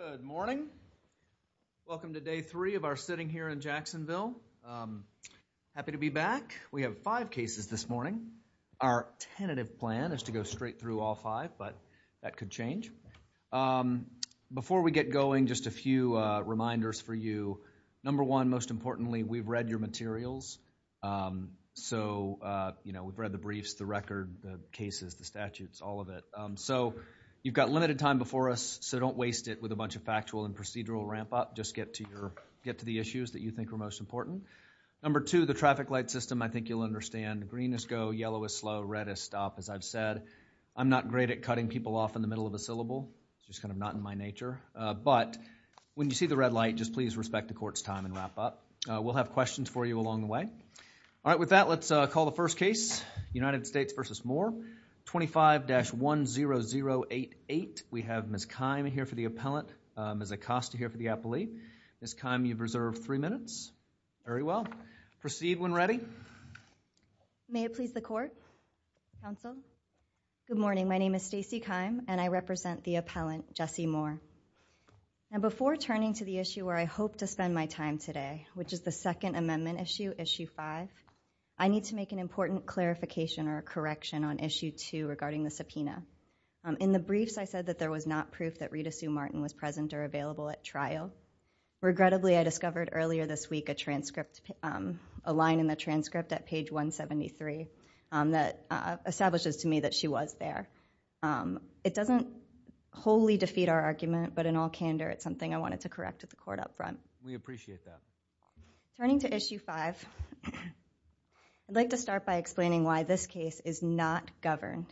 Good morning. Welcome to Day 3 of our sitting here in Jacksonville. Happy to be back. We have five cases this morning. Our tentative plan is to go straight through all five, but that could change. Before we get going, just a few reminders for you. Number one, most importantly, we've read your materials. We've read the briefs, the record, the cases, the statutes, all of it. You've got limited time before us, so don't waste it with a bunch of factual and procedural ramp-up. Just get to the issues that you think are most important. Number two, the traffic light system, I think you'll understand. Green is go, yellow is slow, red is stop, as I've said. I'm not great at cutting people off in the middle of a syllable. It's just kind of not in my nature, but when you see the red light, just please respect the court's time and wrap up. We'll have questions for you along the way. All right. With that, let's call the first case, United States v. Moore, 25-10088. We have Ms. Keim here for the appellant, Ms. Acosta here for the appellee. Ms. Keim, you've reserved three minutes. Very well. Proceed when ready. Stacey Keim May it please the court, counsel. Good morning. My name is Stacey Keim, and I represent the appellant, Jesse Moore. And before turning to the issue where I hope to spend my time today, which is the second amendment issue, issue five, I need to make an important clarification or correction on issue two regarding the subpoena. In the briefs, I said that there was not proof that Rita Sue Martin was present or available at trial. Regrettably, I discovered earlier this week a transcript, a line in the transcript at page 173 that establishes to me that she was there. It doesn't wholly defeat our argument, but in all candor, it's something I wanted to correct at the court up front. We appreciate that. Turning to issue five, I'd like to start by explaining why this case is not governed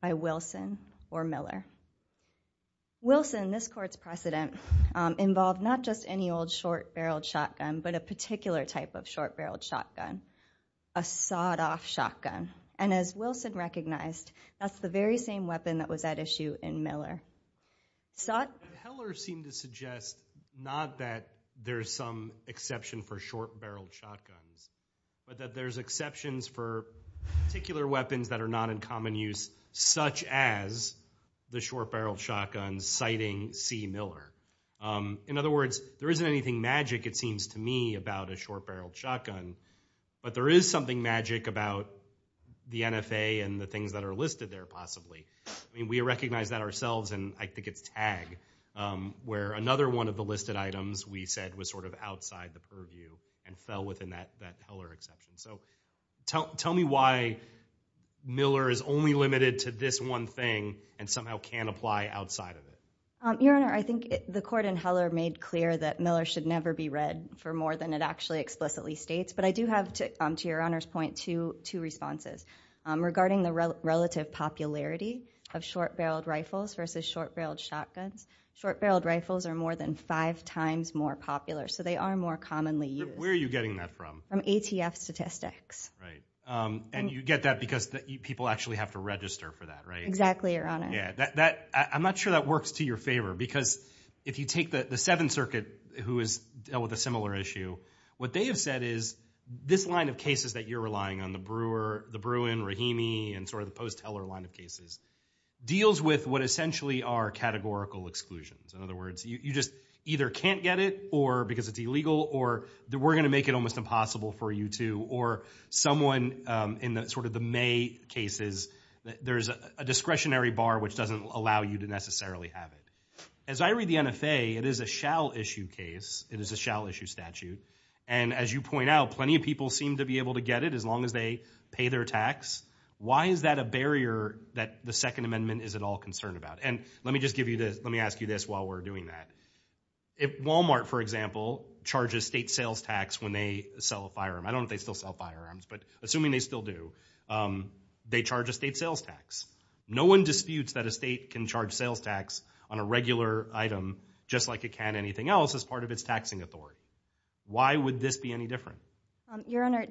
by Wilson or Miller. Wilson, this court's precedent, involved not just any old short-barreled shotgun, but a particular type of short-barreled shotgun, a sawed-off shotgun. And as Wilson recognized, that's the very same weapon that was at issue in Miller. Sot? Heller seemed to suggest not that there's some exception for short-barreled shotguns, but that there's exceptions for particular weapons that are not in common use, such as the short-barreled shotguns citing C. Miller. In other words, there isn't anything magic, it seems to me, about a short-barreled shotgun, but there is something magic about the NFA and the things that are listed there, possibly. We recognize that ourselves, and I think it's tagged, where another one of the listed items, we said, was sort of outside the purview and fell within that Heller exception. So tell me why Miller is only limited to this one thing and somehow can't apply outside of it. Your Honor, I think the court in Heller made clear that Miller should never be read for more than it actually explicitly states, but I do have, to your Honor's point, two responses. Regarding the relative popularity of short-barreled rifles versus short-barreled shotguns, short-barreled rifles are more than five times more popular, so they are more commonly used. Where are you getting that from? From ATF statistics. Right. And you get that because people actually have to register for that, right? Exactly, Your Honor. Yeah. I'm not sure that works to your favor, because if you take the Seventh Circuit, who has dealt with a similar issue, what they have said is, this line of cases that you're relying on, the Brewer, the Bruin, Rahimi, and sort of the post-Heller line of cases, deals with what essentially are categorical exclusions. In other words, you just either can't get it because it's illegal, or we're going to make it almost impossible for you to, or someone in sort of the May cases, there's a discretionary bar which doesn't allow you to necessarily have it. As I read the NFA, it is a shall-issue case, it is a shall-issue statute, and as you point out, plenty of people seem to be able to get it as long as they pay their tax. Why is that a barrier that the Second Amendment isn't all concerned about? And let me just give you this, let me ask you this while we're doing that. If Walmart, for example, charges state sales tax when they sell a firearm, I don't know if they still sell firearms, but assuming they still do, they charge a state sales tax. No one disputes that a state can charge sales tax on a regular item just like it can anything else as part of its taxing authority. Why would this be any different? Your Honor,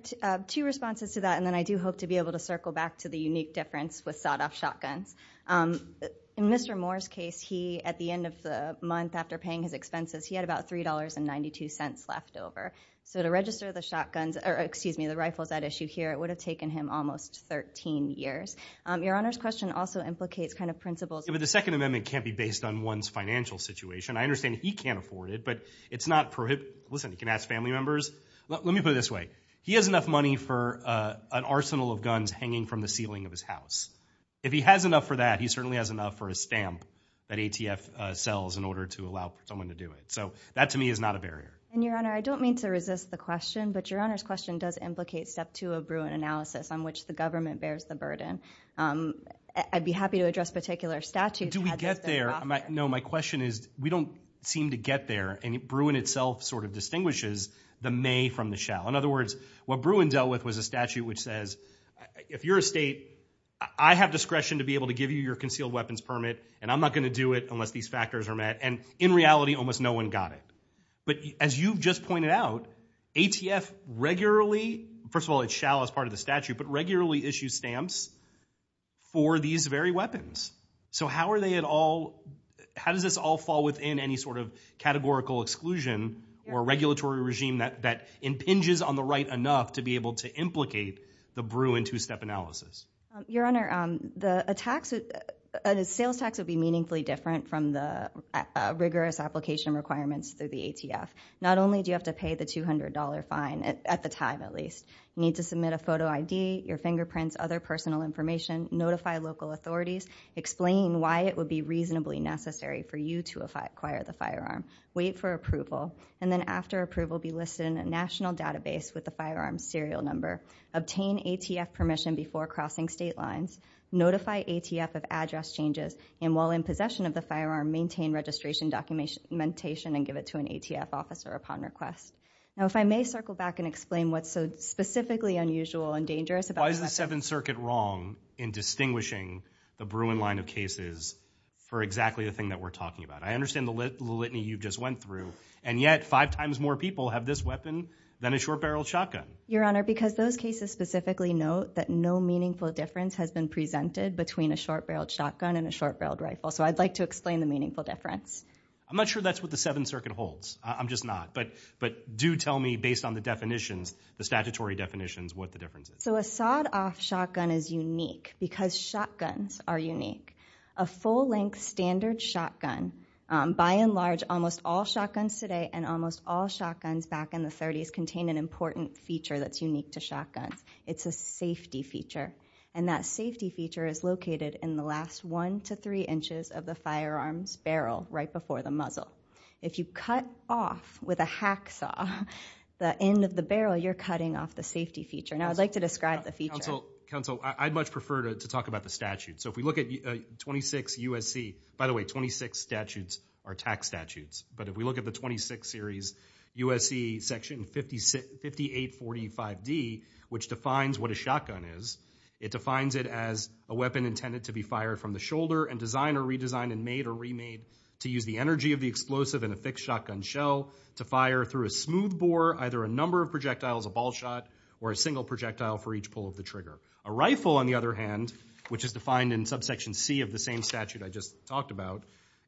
two responses to that, and then I do hope to be able to circle back to the unique difference with sawed-off shotguns. In Mr. Moore's case, he, at the end of the month after paying his expenses, he had about $3.92 left over. So to register the shotguns, or excuse me, the rifles at issue here, it would have taken him almost 13 years. Your Honor's question also implicates kind of principles. The Second Amendment can't be based on one's financial situation. I understand he can't afford it, but it's not prohibited. Listen, you can ask family members. Let me put it this way. He has enough money for an arsenal of guns hanging from the ceiling of his house. If he has enough for that, he certainly has enough for a stamp that ATF sells in order to allow someone to do it. So that, to me, is not a barrier. And, Your Honor, I don't mean to resist the question, but Your Honor's question does implicate step two of Bruin analysis on which the government bears the burden. I'd be happy to address particular statutes. Do we get there? No, my question is, we don't seem to get there. And Bruin itself sort of distinguishes the may from the shall. In other words, what Bruin dealt with was a statute which says, if you're a state, I have discretion to be able to give you your concealed weapons permit, and I'm not going to do it unless these factors are met. And in reality, almost no one got it. But as you just pointed out, ATF regularly, first of all, it shall as part of the statute, but regularly issues stamps for these very weapons. So how are they at all, how does this all fall within any sort of categorical exclusion or regulatory regime that impinges on the right enough to be able to implicate the Bruin two-step analysis? Your Honor, the sales tax would be meaningfully different from the rigorous application requirements through the ATF. Not only do you have to pay the $200 fine at the time, at least, you need to submit a photo ID, your fingerprints, other personal information, notify local authorities, explain why it would be reasonably necessary for you to acquire the firearm, wait for approval, and then after approval, be listed in a national database with the firearm's serial number, obtain ATF permission before crossing state lines, notify ATF of address changes, and while in possession of the firearm, maintain registration documentation and give it to the ATF officer upon request. Now if I may circle back and explain what's so specifically unusual and dangerous about the weapon. Why is the Seventh Circuit wrong in distinguishing the Bruin line of cases for exactly the thing that we're talking about? I understand the litany you just went through, and yet five times more people have this weapon than a short-barreled shotgun. Your Honor, because those cases specifically note that no meaningful difference has been presented between a short-barreled shotgun and a short-barreled rifle, so I'd like to explain the meaningful difference. I'm not sure that's what the Seventh Circuit holds. I'm just not. But do tell me, based on the definitions, the statutory definitions, what the difference is. So a sawed-off shotgun is unique because shotguns are unique. A full-length standard shotgun, by and large, almost all shotguns today and almost all shotguns back in the 30s contain an important feature that's unique to shotguns. It's a safety feature. And that safety feature is located in the last one to three inches of the firearm's barrel right before the muzzle. If you cut off with a hacksaw the end of the barrel, you're cutting off the safety feature. Now, I'd like to describe the feature. Counsel, I'd much prefer to talk about the statute. So if we look at 26 U.S.C. By the way, 26 statutes are tax statutes. But if we look at the 26 series U.S.C. Section 5845D, which defines what a shotgun is, it defines it as a weapon intended to be fired from the shoulder and designed or redesigned and made or remade to use the energy of the explosive in a fixed shotgun shell to fire through a smooth bore, either a number of projectiles, a ball shot, or a single projectile for each pull of the trigger. A rifle, on the other hand, which is defined in Subsection C of the same statute I just talked about,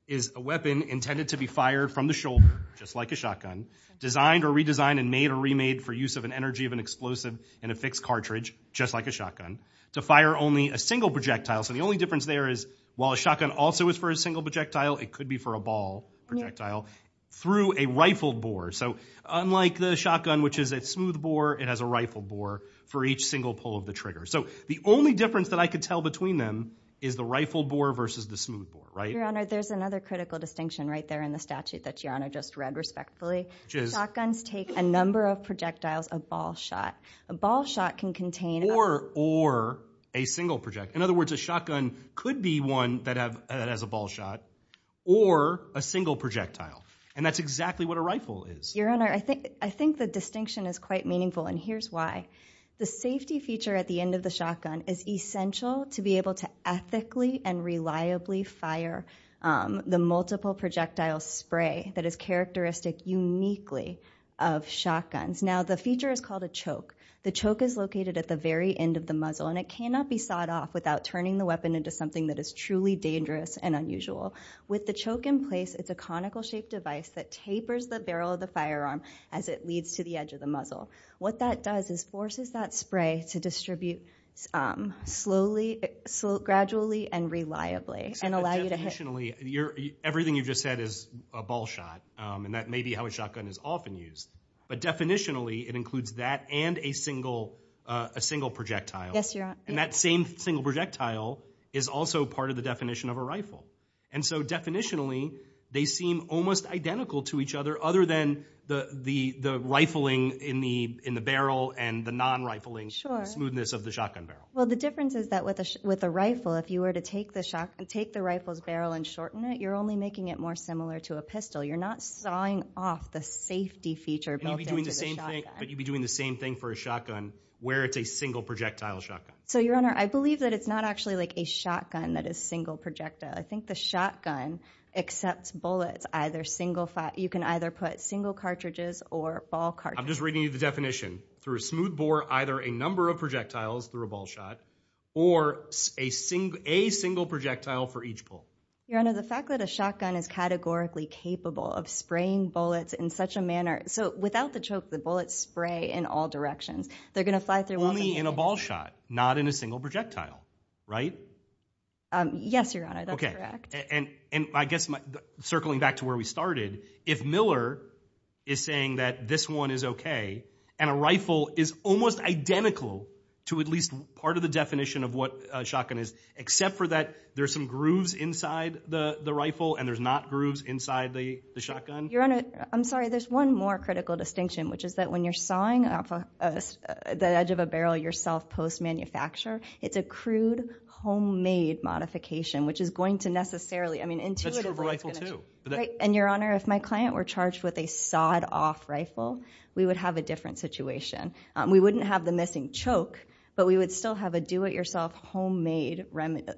is a weapon intended to be fired from the shoulder, just like a shotgun, designed or redesigned and made or remade for use of an energy of an explosive in a fixed cartridge, just like a shotgun, to fire only a single projectile. So the only difference there is while a shotgun also is for a single projectile, it could be for a ball projectile through a rifled bore. So unlike the shotgun, which is a smooth bore, it has a rifled bore for each single pull of the trigger. So the only difference that I could tell between them is the rifled bore versus the smooth bore, right? Your Honor, there's another critical distinction right there in the statute that Your Honor just read respectfully. Shotguns take a number of projectiles, a ball shot. A ball shot can contain a... Or a single projectile. In other words, a shotgun could be one that has a ball shot or a single projectile. And that's exactly what a rifle is. Your Honor, I think the distinction is quite meaningful, and here's why. The safety feature at the end of the shotgun is essential to be able to ethically and reliably fire the multiple projectile spray that is characteristic uniquely of shotguns. Now, the feature is called a choke. The choke is located at the very end of the muzzle, and it cannot be sawed off without turning the weapon into something that is truly dangerous and unusual. With the choke in place, it's a conical-shaped device that tapers the barrel of the firearm as it leads to the edge of the muzzle. What that does is forces that spray to distribute slowly, gradually, and reliably, and allow you to hit... Definitionally, everything you've just said is a ball shot, and that may be how a shotgun is often used. But definitionally, it includes that and a single projectile. Yes, Your Honor. And that same single projectile is also part of the definition of a rifle. And so, definitionally, they seem almost identical to each other, other than the rifling in the barrel and the non-rifling smoothness of the shotgun barrel. Well, the difference is that with a rifle, if you were to take the rifle's barrel and shorten it, you're only making it more similar to a pistol. You're not sawing off the safety feature built into the shotgun. But you'd be doing the same thing for a shotgun where it's a single projectile shotgun. So, Your Honor, I believe that it's not actually like a shotgun that is single projectile. I think the shotgun accepts bullets either single... You can either put single cartridges or ball cartridges. I'm just reading you the definition. Through a smooth bore, either a number of projectiles through a ball shot, or a single projectile for each pull. Your Honor, the fact that a shotgun is categorically capable of spraying bullets in such a manner... So, without the choke, the bullets spray in all directions. They're going to fly through walls and... Only in a ball shot, not in a single projectile, right? Yes, Your Honor. That's correct. And I guess circling back to where we started, if Miller is saying that this one is okay and a rifle is almost identical to at least part of the definition of what a shotgun is, except for that there's some grooves inside the rifle and there's not grooves inside the Your Honor, I'm sorry. There's one more critical distinction, which is that when you're sawing off the edge of a barrel yourself post-manufacture, it's a crude, homemade modification, which is going to necessarily... That's true of a rifle, too. And Your Honor, if my client were charged with a sawed-off rifle, we would have a different situation. We wouldn't have the missing choke, but we would still have a do-it-yourself, homemade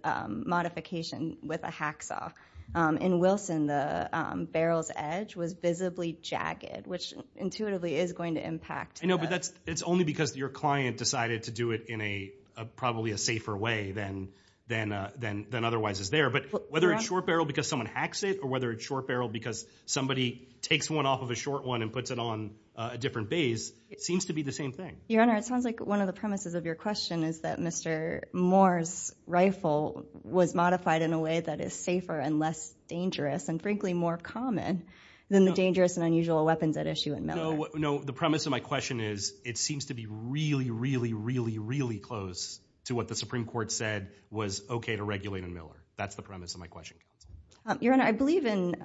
modification with a hacksaw. In Wilson, the barrel's edge was visibly jagged, which intuitively is going to impact... I know, but that's only because your client decided to do it in probably a safer way than otherwise is there. But whether it's short barrel because someone hacks it, or whether it's short barrel because somebody takes one off of a short one and puts it on a different base, it seems to be the same thing. Your Honor, it sounds like one of the premises of your question is that Mr. Moore's rifle was modified in a way that is safer and less dangerous, and frankly, more common than the dangerous and unusual weapons at issue in Miller. No, the premise of my question is it seems to be really, really, really, really close to what the Supreme Court said was okay to regulate in Miller. That's the premise of my question. Your Honor, I believe in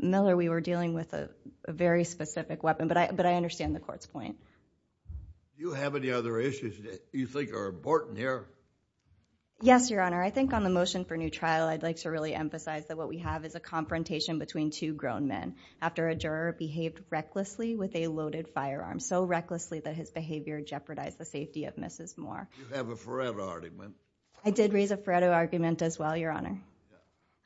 Miller we were dealing with a very specific weapon, but I understand the court's point. Do you have any other issues that you think are important here? Yes, Your Honor. I think on the motion for new trial, I'd like to really emphasize that what we have is a confrontation between two grown men after a juror behaved recklessly with a loaded firearm, so recklessly that his behavior jeopardized the safety of Mrs. Moore. You have a Faretto argument. I did raise a Faretto argument as well, Your Honor.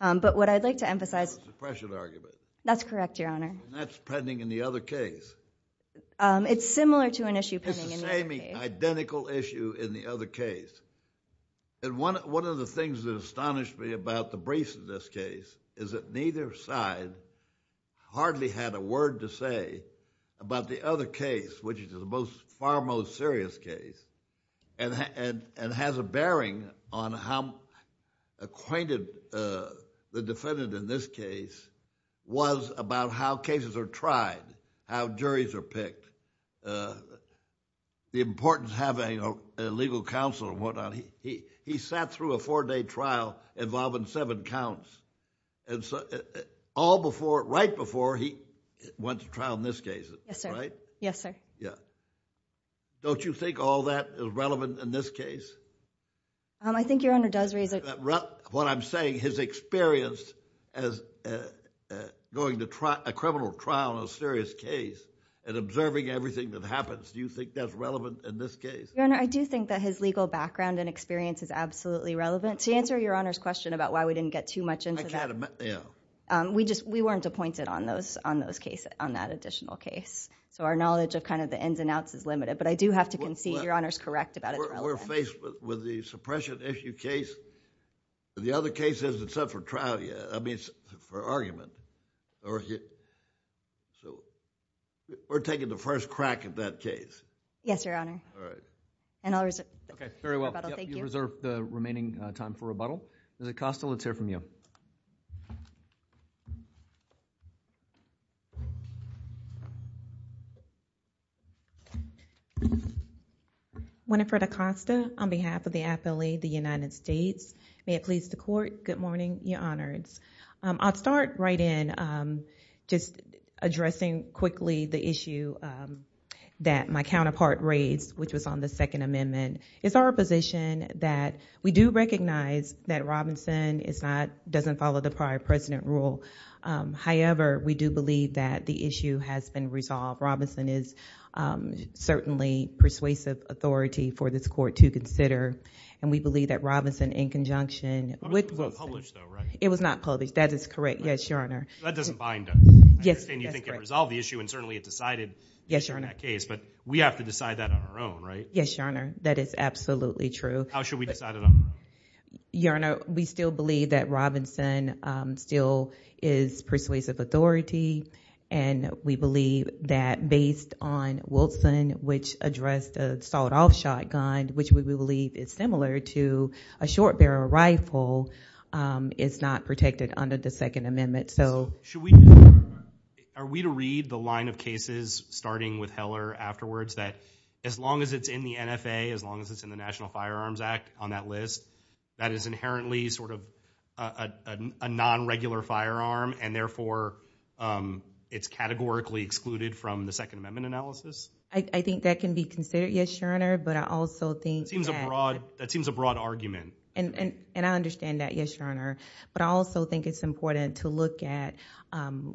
But what I'd like to emphasize... It's a suppression argument. That's correct, Your Honor. And that's pending in the other case. It's similar to an issue pending in the other case. It's the same identical issue in the other case. And one of the things that astonished me about the briefs in this case is that neither side hardly had a word to say about the other case, which is the far most serious case, and has a bearing on how acquainted the defendant in this case was about how cases are tried, how juries are picked, the importance of having a legal counsel and what not. He sat through a four-day trial involving seven counts, right before he went to trial in this case. Yes, sir. Right? Yes, sir. Yeah. Don't you think all that is relevant in this case? I think Your Honor does raise a... What I'm saying, his experience as going to a criminal trial in a serious case and observing everything that happens, do you think that's relevant in this case? Your Honor, I do think that his legal background and experience is absolutely relevant. To answer Your Honor's question about why we didn't get too much into that... I can't imagine... Yeah. We weren't appointed on those cases, on that additional case. Our knowledge of the ins and outs is limited, but I do have to concede Your Honor's correct about it's relevant. We're faced with the suppression issue case. The other case isn't set for trial yet, I mean for argument. We're taking the first crack at that case. Yes, Your Honor. All right. I'll reserve the rebuttal. Thank you. Okay. Very well. Yep. You reserve the remaining time for rebuttal. Ms. Acosta, let's hear from you. Winifred Acosta, on behalf of the affiliate, the United States. May it please the court, good morning, Your Honors. I'll start right in just addressing quickly the issue that my counterpart raised, which was on the Second Amendment. It's our position that we do recognize that Robinson doesn't follow the prior precedent rule. However, we do believe that the issue has been resolved. Robinson is certainly persuasive authority for this court to consider, and we believe that Robinson in conjunction with- It was published though, right? It was not published. That is correct. Yes, Your Honor. That doesn't bind us. Yes, that's correct. I understand you think it resolved the issue, and certainly it decided- Yes, Your Honor.... to turn that case. We have to decide that on our own, right? Yes, Your Honor. That is absolutely true. How should we decide it on our own? Your Honor, we still believe that Robinson still is persuasive authority, and we believe that based on Wilson, which addressed a sawed-off shotgun, which we believe is similar to a short-barrel rifle, it's not protected under the Second Amendment. Should we... Are we to read the line of cases, starting with Heller afterwards, that as long as it's in the NFA, as long as it's in the National Firearms Act on that list, that is inherently a non-regular firearm, and therefore it's categorically excluded from the Second Amendment analysis? I think that can be considered, yes, Your Honor, but I also think that- That seems a broad argument. I understand that, yes, Your Honor, but I also think it's important to look at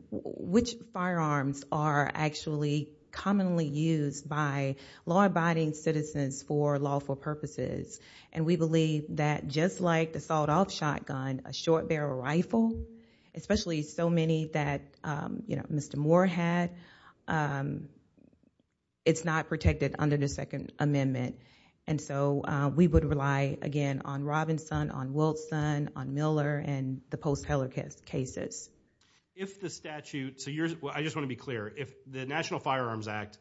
which firearms are actually commonly used by law-abiding citizens for lawful purposes, and we believe that just like the sawed-off shotgun, a short-barrel rifle, especially so many that Mr. Moore had, it's not protected under the Second Amendment, and so we would rely, again, on Robinson, on Wilson, on Miller, and the post-Heller cases. If the statute... I just want to be clear. If the National Firearms Act,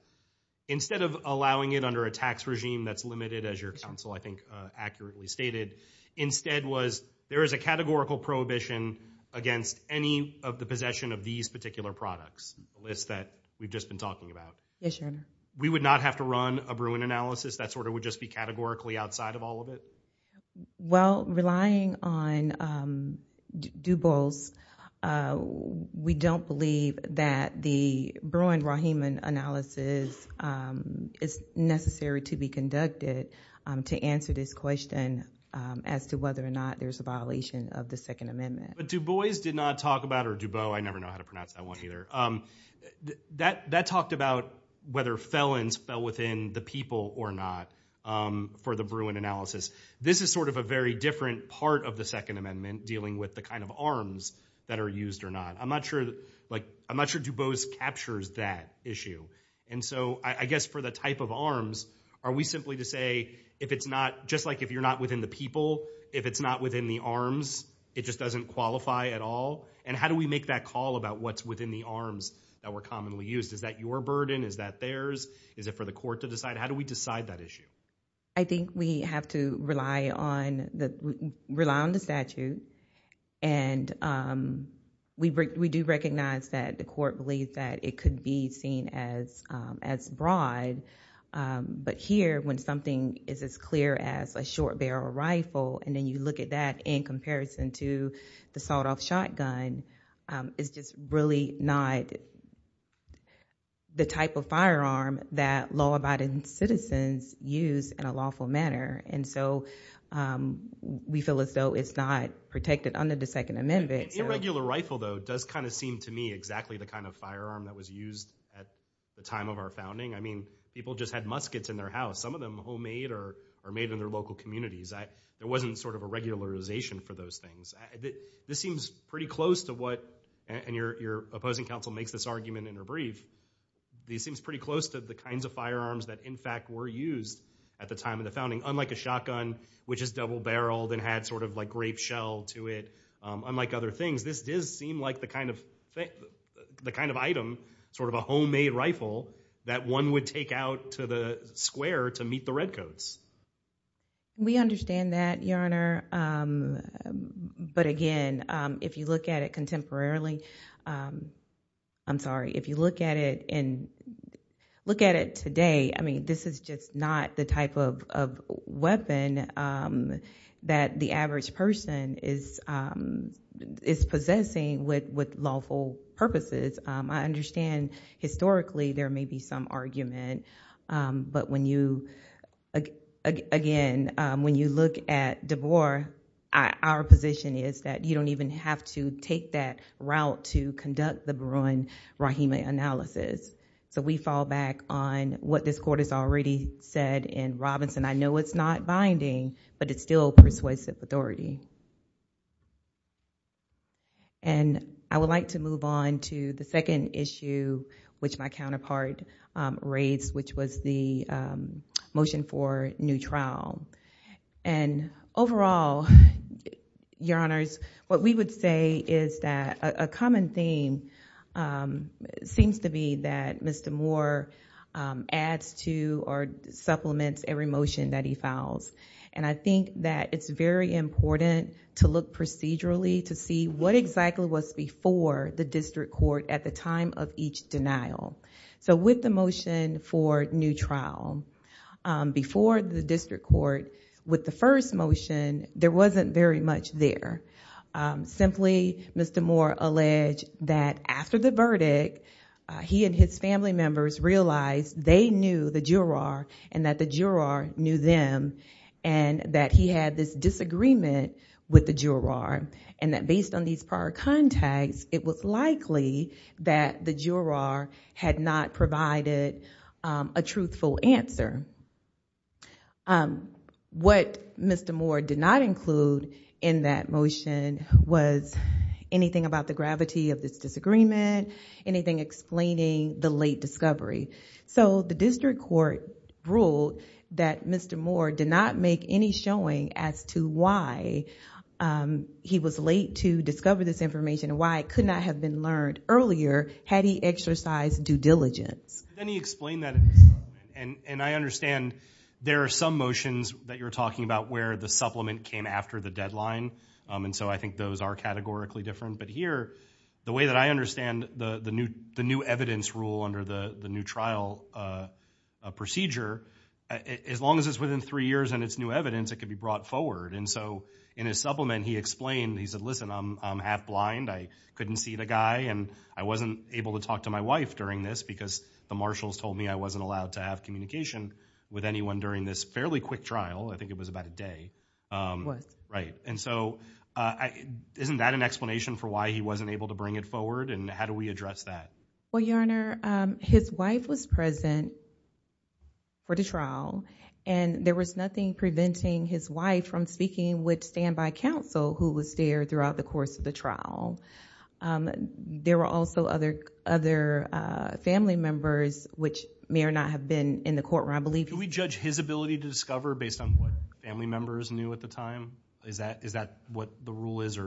instead of allowing it under a tax regime that's limited, as your counsel, I think, accurately stated, instead was, there is a categorical prohibition against any of the possession of these particular products, the list that we've just been talking about. Yes, Your Honor. We would not have to run a Bruin analysis? That sort of would just be categorically outside of all of it? Well, relying on DuBois, we don't believe that the Bruin-Rahiman analysis is necessary to be conducted to answer this question as to whether or not there's a violation of the Second Amendment. But DuBois did not talk about, or DuBois, I never know how to pronounce that one either, that talked about whether felons fell within the people or not for the Bruin analysis. This is sort of a very different part of the Second Amendment, dealing with the kind of arms that are used or not. I'm not sure DuBois captures that issue. I guess for the type of arms, are we simply to say, just like if you're not within the people, if it's not within the arms, it just doesn't qualify at all? And how do we make that call about what's within the arms that were commonly used? Is that your burden? Is that theirs? Is it for the court to decide? How do we decide that issue? I think we have to rely on the statute. And we do recognize that the court believes that it could be seen as broad. But here, when something is as clear as a short barrel rifle, and then you look at that in comparison to the sawed-off shotgun, it's just really not the type of firearm that law-abiding citizens use in a lawful manner. And so, we feel as though it's not protected under the Second Amendment. Irregular rifle, though, does kind of seem to me exactly the kind of firearm that was used at the time of our founding. I mean, people just had muskets in their house. Some of them homemade or made in their local communities. There wasn't sort of a regularization for those things. This seems pretty close to what, and your opposing counsel makes this argument in her brief, this seems pretty close to the kinds of firearms that, in fact, were used at the time of the founding. Unlike a shotgun, which is double-barreled and had sort of like grape shell to it, unlike other things, this does seem like the kind of item, sort of a homemade rifle, that one would take out to the square to meet the redcoats. We understand that, Your Honor. But again, if you look at it contemporarily, I'm sorry, if you look at it today, I mean, this is just not the type of weapon that the average person is possessing with lawful purposes. I understand historically there may be some argument, but when you, again, when you look at DeBoer, our position is that you don't even have to take that route to conduct the Barun-Rahimi analysis. We fall back on what this court has already said in Robinson. I know it's not binding, but it's still persuasive authority. I would like to move on to the second issue, which my counterpart raised, which was the motion for new trial. Overall, Your Honors, what we would say is that a common theme seems to be that Mr. Moore adds to or supplements every motion that he files. I think that it's very important to look procedurally to see what exactly was before the district court at the time of each denial. With the motion for new trial, before the district court, with the first motion, there wasn't very much there. Simply, Mr. Moore alleged that after the verdict, he and his family members realized they knew the juror and that the juror knew them and that he had this disagreement with the juror and that based on these prior contacts, it was likely that the juror had not provided a truthful answer. What Mr. Moore did not include in that motion was anything about the gravity of this disagreement, anything explaining the late discovery. The district court ruled that Mr. Moore did not make any showing as to why he was late to discover this information and why it could not have been learned earlier had he exercised due diligence. Can you explain that? I understand there are some motions that you're talking about where the supplement came after the deadline. I think those are categorically different, but here, the way that I understand the new evidence rule under the new trial procedure, as long as it's within three years and it's new evidence, it can be brought forward. In his supplement, he explained, he said, listen, I'm half blind. I couldn't see the guy and I wasn't able to talk to my wife during this because the marshals told me I wasn't allowed to have communication with anyone during this fairly quick trial. I think it was about a day. Isn't that an explanation for why he wasn't able to bring it forward and how do we address that? Your Honor, his wife was present for the trial and there was nothing preventing his wife from speaking with standby counsel who was there throughout the course of the trial. There were also other family members which may or not have been in the courtroom, I believe. Can we judge his ability to discover based on what family members knew at the time? Is that what the rule is?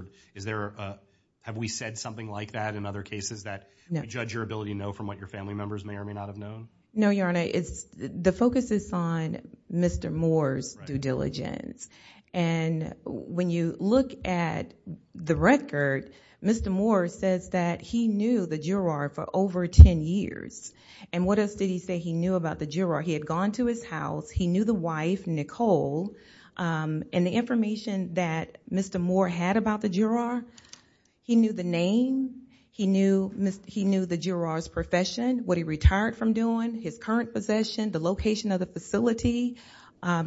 Have we said something like that in other cases that we judge your ability to know from what your family members may or may not have known? No, Your Honor. The focus is on Mr. Moore's due diligence. When you look at the record, Mr. Moore says that he knew the juror for over ten years. What else did he say he knew about the juror? He had gone to his house. He knew the wife, Nicole, and the information that Mr. Moore had about the juror. He knew the name. He knew the juror's profession, what he retired from doing, his current possession, the location of the facility.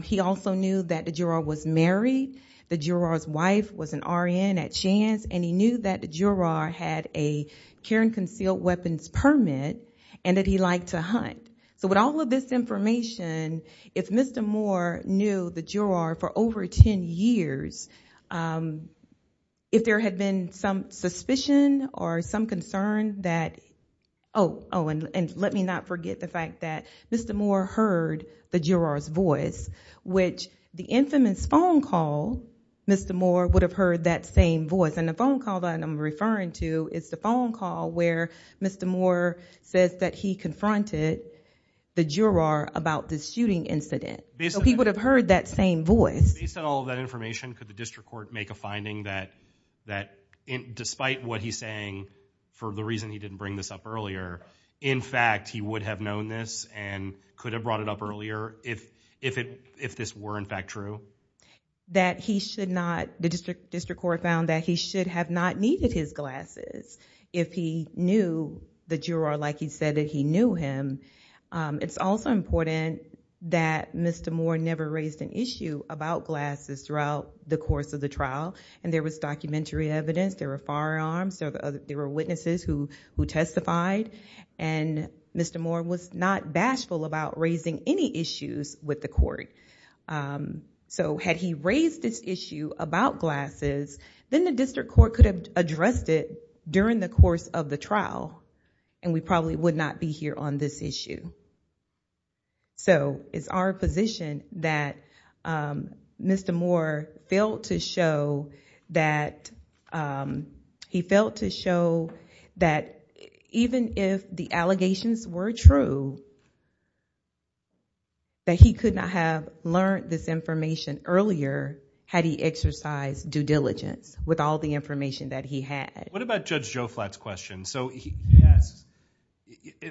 He also knew that the juror was married. The juror's wife was an RN at Shands and he knew that the juror had a care and concealed weapons permit and that he liked to hunt. With all of this information, if Mr. Moore knew the juror for over ten years, if there had been some suspicion or some concern that—oh, and let me not forget the fact that Mr. Moore heard the juror's voice, which the infamous phone call, Mr. Moore would have heard that same voice. The phone call that I'm referring to is the phone call where Mr. Moore says that he confronted the juror about the shooting incident. So he would have heard that same voice. Based on all of that information, could the district court make a finding that despite what he's saying, for the reason he didn't bring this up earlier, in fact he would have known this and could have brought it up earlier if this were in fact true? That he should not—the district court found that he should have not needed his glasses if he knew the juror like he said that he knew him. It's also important that Mr. Moore never raised an issue about glasses throughout the course of the trial and there was documentary evidence, there were firearms, there were witnesses who testified and Mr. Moore was not bashful about raising any issues with the court. So had he raised this issue about glasses, then the district court could have addressed it during the course of the trial and we probably would not be here on this issue. So it's our position that Mr. Moore failed to show that—he failed to show that even if the allegations were true, that he could not have learned this information earlier had he exercised due diligence with all the information that he had. What about Judge Joe Flatt's question? So he asks,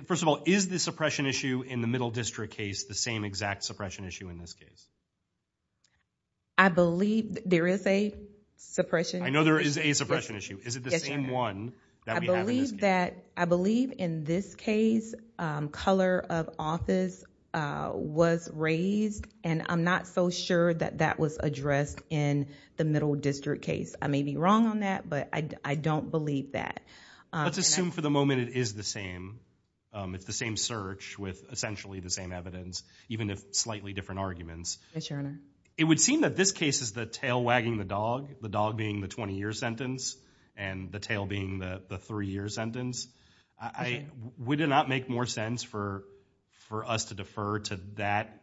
first of all, is the suppression issue in the middle district case the same exact suppression issue in this case? I believe there is a suppression issue. I know there is a suppression issue. Is it the same one that we have in this case? I believe in this case, color of office was raised and I'm not so sure that that was addressed in the middle district case. I may be wrong on that, but I don't believe that. Let's assume for the moment it is the same. It's the same search with essentially the same evidence, even if slightly different arguments. Yes, Your Honor. It would seem that this case is the tail wagging the dog, the dog being the 20-year sentence and the tail being the three-year sentence. Would it not make more sense for us to defer to that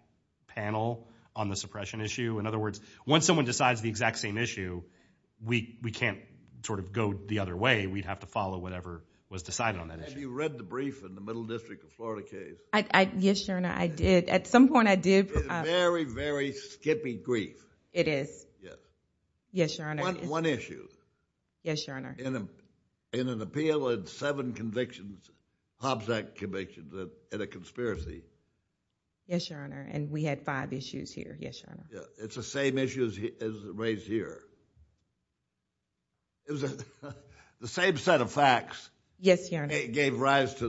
panel on the suppression issue? In other words, once someone decides the exact same issue, we can't sort of go the other way. We'd have to follow whatever was decided on that issue. Have you read the brief in the middle district of Florida case? Yes, Your Honor, I did. At some point, I did. It's a very, very skippy brief. It is. Yes, Your Honor. One issue. Yes, Your Honor. In an appeal with seven convictions, Hobbs Act convictions, and a conspiracy. Yes, Your Honor, and we had five issues here. Yes, Your Honor. It's the same issues as raised here. It was the same set of facts. Yes, Your Honor. It gave rise to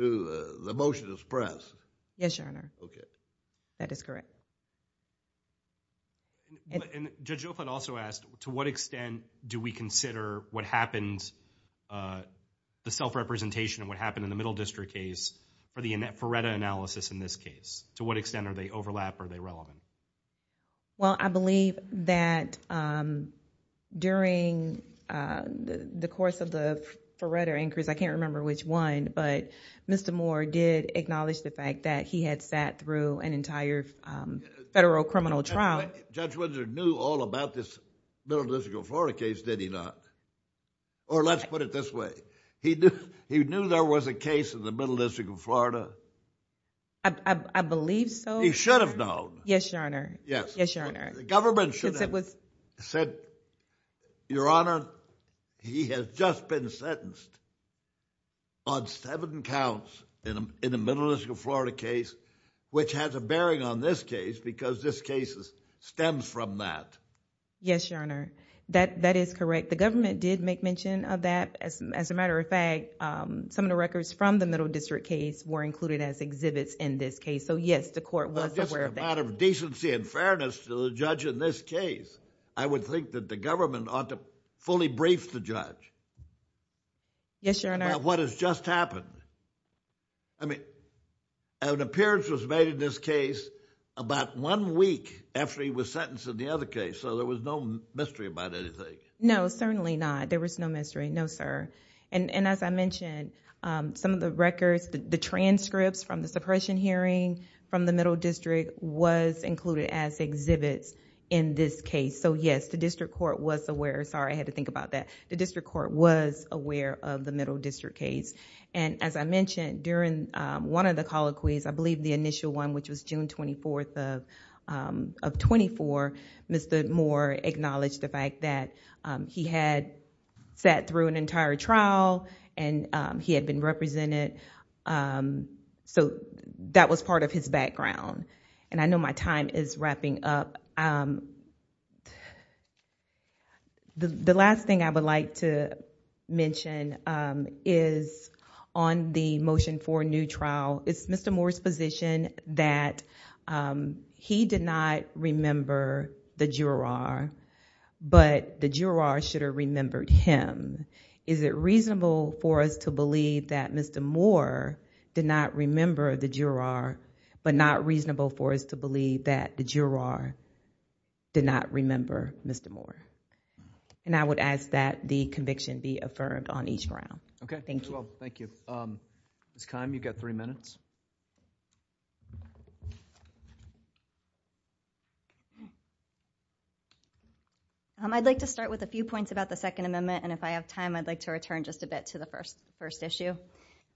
the motion to suppress. Yes, Your Honor. Okay. That is correct. Judge Oaklett also asked, to what extent do we consider what happens, the self-representation of what happened in the middle district case for the FARETA analysis in this case? To what extent are they overlapped? Are they relevant? Well, I believe that during the course of the FARETA increase, I can't remember which one, but Mr. Moore did acknowledge the fact that he had sat through an entire federal criminal trial. Judge Windsor knew all about this Middle District of Florida case, did he not? Or let's put it this way. He knew there was a case in the Middle District of Florida? I believe so. He should have known. Yes, Your Honor. Yes. Yes, Your Honor. The government should have said, Your Honor, he has just been sentenced on seven counts in the Middle District of Florida case, which has a bearing on this case because this case stems from that. Yes, Your Honor. That is correct. The government did make mention of that. As a matter of fact, some of the records from the Middle District case were included as exhibits in this case. Yes, the court was aware of that. This is a matter of decency and fairness to the judge in this case. I would think that the government ought to fully brief the judge. Yes, Your Honor. What has just happened? I mean, an appearance was made in this case about one week after he was sentenced in the other case, so there was no mystery about anything. No, certainly not. There was no mystery. No, sir. As I mentioned, some of the records, the transcripts from the suppression hearing from the Middle District was included as exhibits in this case. Yes, the district court was aware. Sorry, I had to think about that. The district court was aware of the Middle District case. As I mentioned, during one of the colloquies, I believe the initial one, which was June 24th of 2004, Mr. Moore acknowledged the fact that he had sat through an entire trial and he had been represented, so that was part of his background. I know my time is wrapping up. The last thing I would like to mention is on the Motion for a New Trial. It's Mr. Moore's position that he did not remember the juror, but the juror should have remembered him. Is it reasonable for us to believe that Mr. Moore did not remember the juror, but not reasonable for us to believe that the juror did not remember Mr. Moore? I would ask that the conviction be affirmed on each ground. Thank you. Thank you. Ms. Kime, you've got three minutes. I'd like to start with a few points about the Second Amendment, and if I have time, I'd like to return just a bit to the first issue.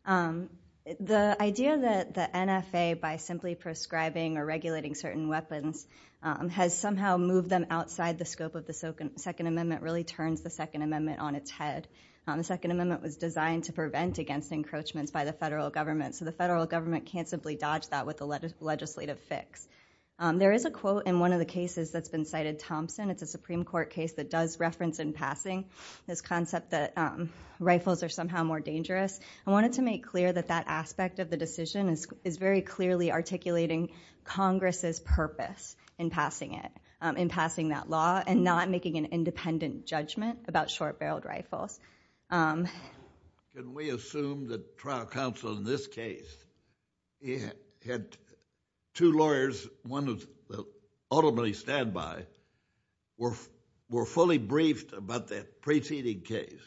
The idea that the NFA, by simply prescribing or regulating certain weapons, has somehow moved them outside the scope of the Second Amendment really turns the Second Amendment on its head. The Second Amendment was designed to prevent against encroachments by the federal government, so the federal government can't simply dodge that with a legislative fix. There is a quote in one of the cases that's been cited, Thompson. It's a Supreme Court case that does reference in passing this concept that rifles are somehow more dangerous. I wanted to make clear that that aspect of the decision is very clearly articulating Congress's purpose in passing it, in passing that law, and not making an independent judgment about short-barreled rifles. We assume that trial counsel in this case had two lawyers, one of the stand-by, were fully briefed about that preceding case.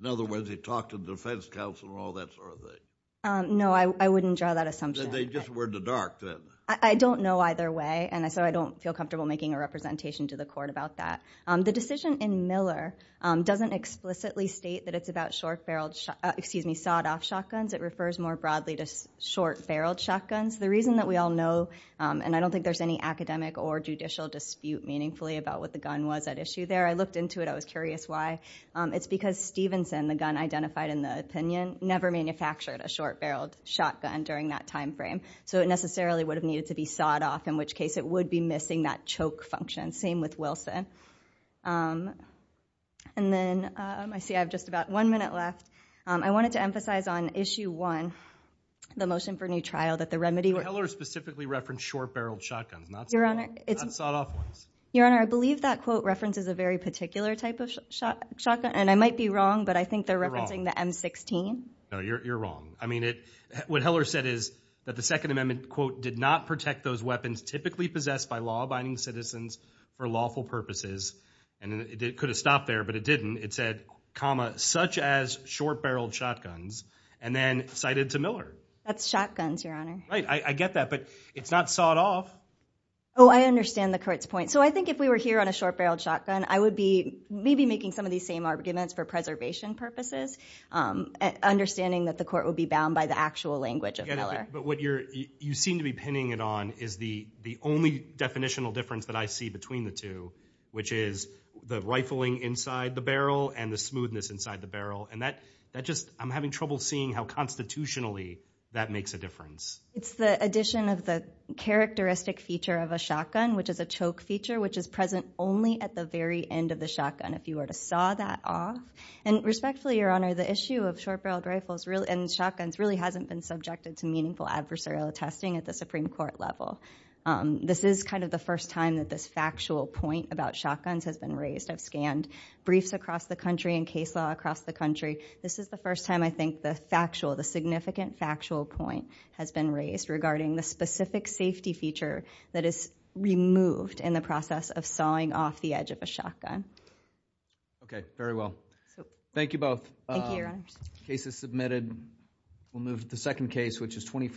In other words, they talked to the defense counsel and all that sort of thing. No, I wouldn't draw that assumption. They just were in the dark then. I don't know either way, and so I don't feel comfortable making a representation to the court about that. The decision in Miller doesn't explicitly state that it's about short-barreled, excuse me, sawed-off shotguns. It refers more broadly to short-barreled shotguns. The reason that we all know, and I don't think there's any academic or judicial dispute, meaningfully, about what the gun was at issue there. I looked into it. I was curious why. It's because Stevenson, the gun identified in the opinion, never manufactured a short-barreled shotgun during that time frame, so it necessarily would have needed to be sawed off, in which case it would be missing that choke function. Same with Wilson. I see I have just about one minute left. I wanted to emphasize on issue one, the motion for new trial, that the remedy specifically referenced short-barreled shotguns, not sawed-off ones. Your Honor, I believe that quote references a very particular type of shotgun, and I might be wrong, but I think they're referencing the M16. No, you're wrong. I mean, what Heller said is that the Second Amendment, quote, did not protect those weapons typically possessed by law-abiding citizens for lawful purposes, and it could have stopped there, but it didn't. It said, comma, such as short-barreled shotguns, and then cited to Miller. That's shotguns, Your Honor. Right, I get that, but it's not sawed-off. Oh, I understand the court's point. So I think if we were here on a short-barreled shotgun, I would be maybe making some of these same arguments for preservation purposes, understanding that the court would be bound by the actual language of Miller. But what you seem to be pinning it on is the only definitional difference that I see between the two, which is the rifling inside the barrel and the smoothness inside the barrel, and that just, I'm having trouble seeing how constitutionally that makes a difference. It's the addition of the characteristic feature of a shotgun, which is a choke feature, which is present only at the very end of the shotgun, if you were to saw that off. And respectfully, Your Honor, the issue of short-barreled rifles and shotguns really hasn't been subjected to meaningful adversarial testing at the Supreme Court level. This is kind of the first time that this factual point about shotguns has been raised. I've scanned briefs across the country and case law across the country. This is the first time I think the factual, the significant factual point has been raised regarding the specific safety feature that is removed in the process of sawing off the edge of a shotgun. Okay. Very well. Thank you both. Thank you, Your Honor. Case is submitted. We'll move to the second case, which is 25.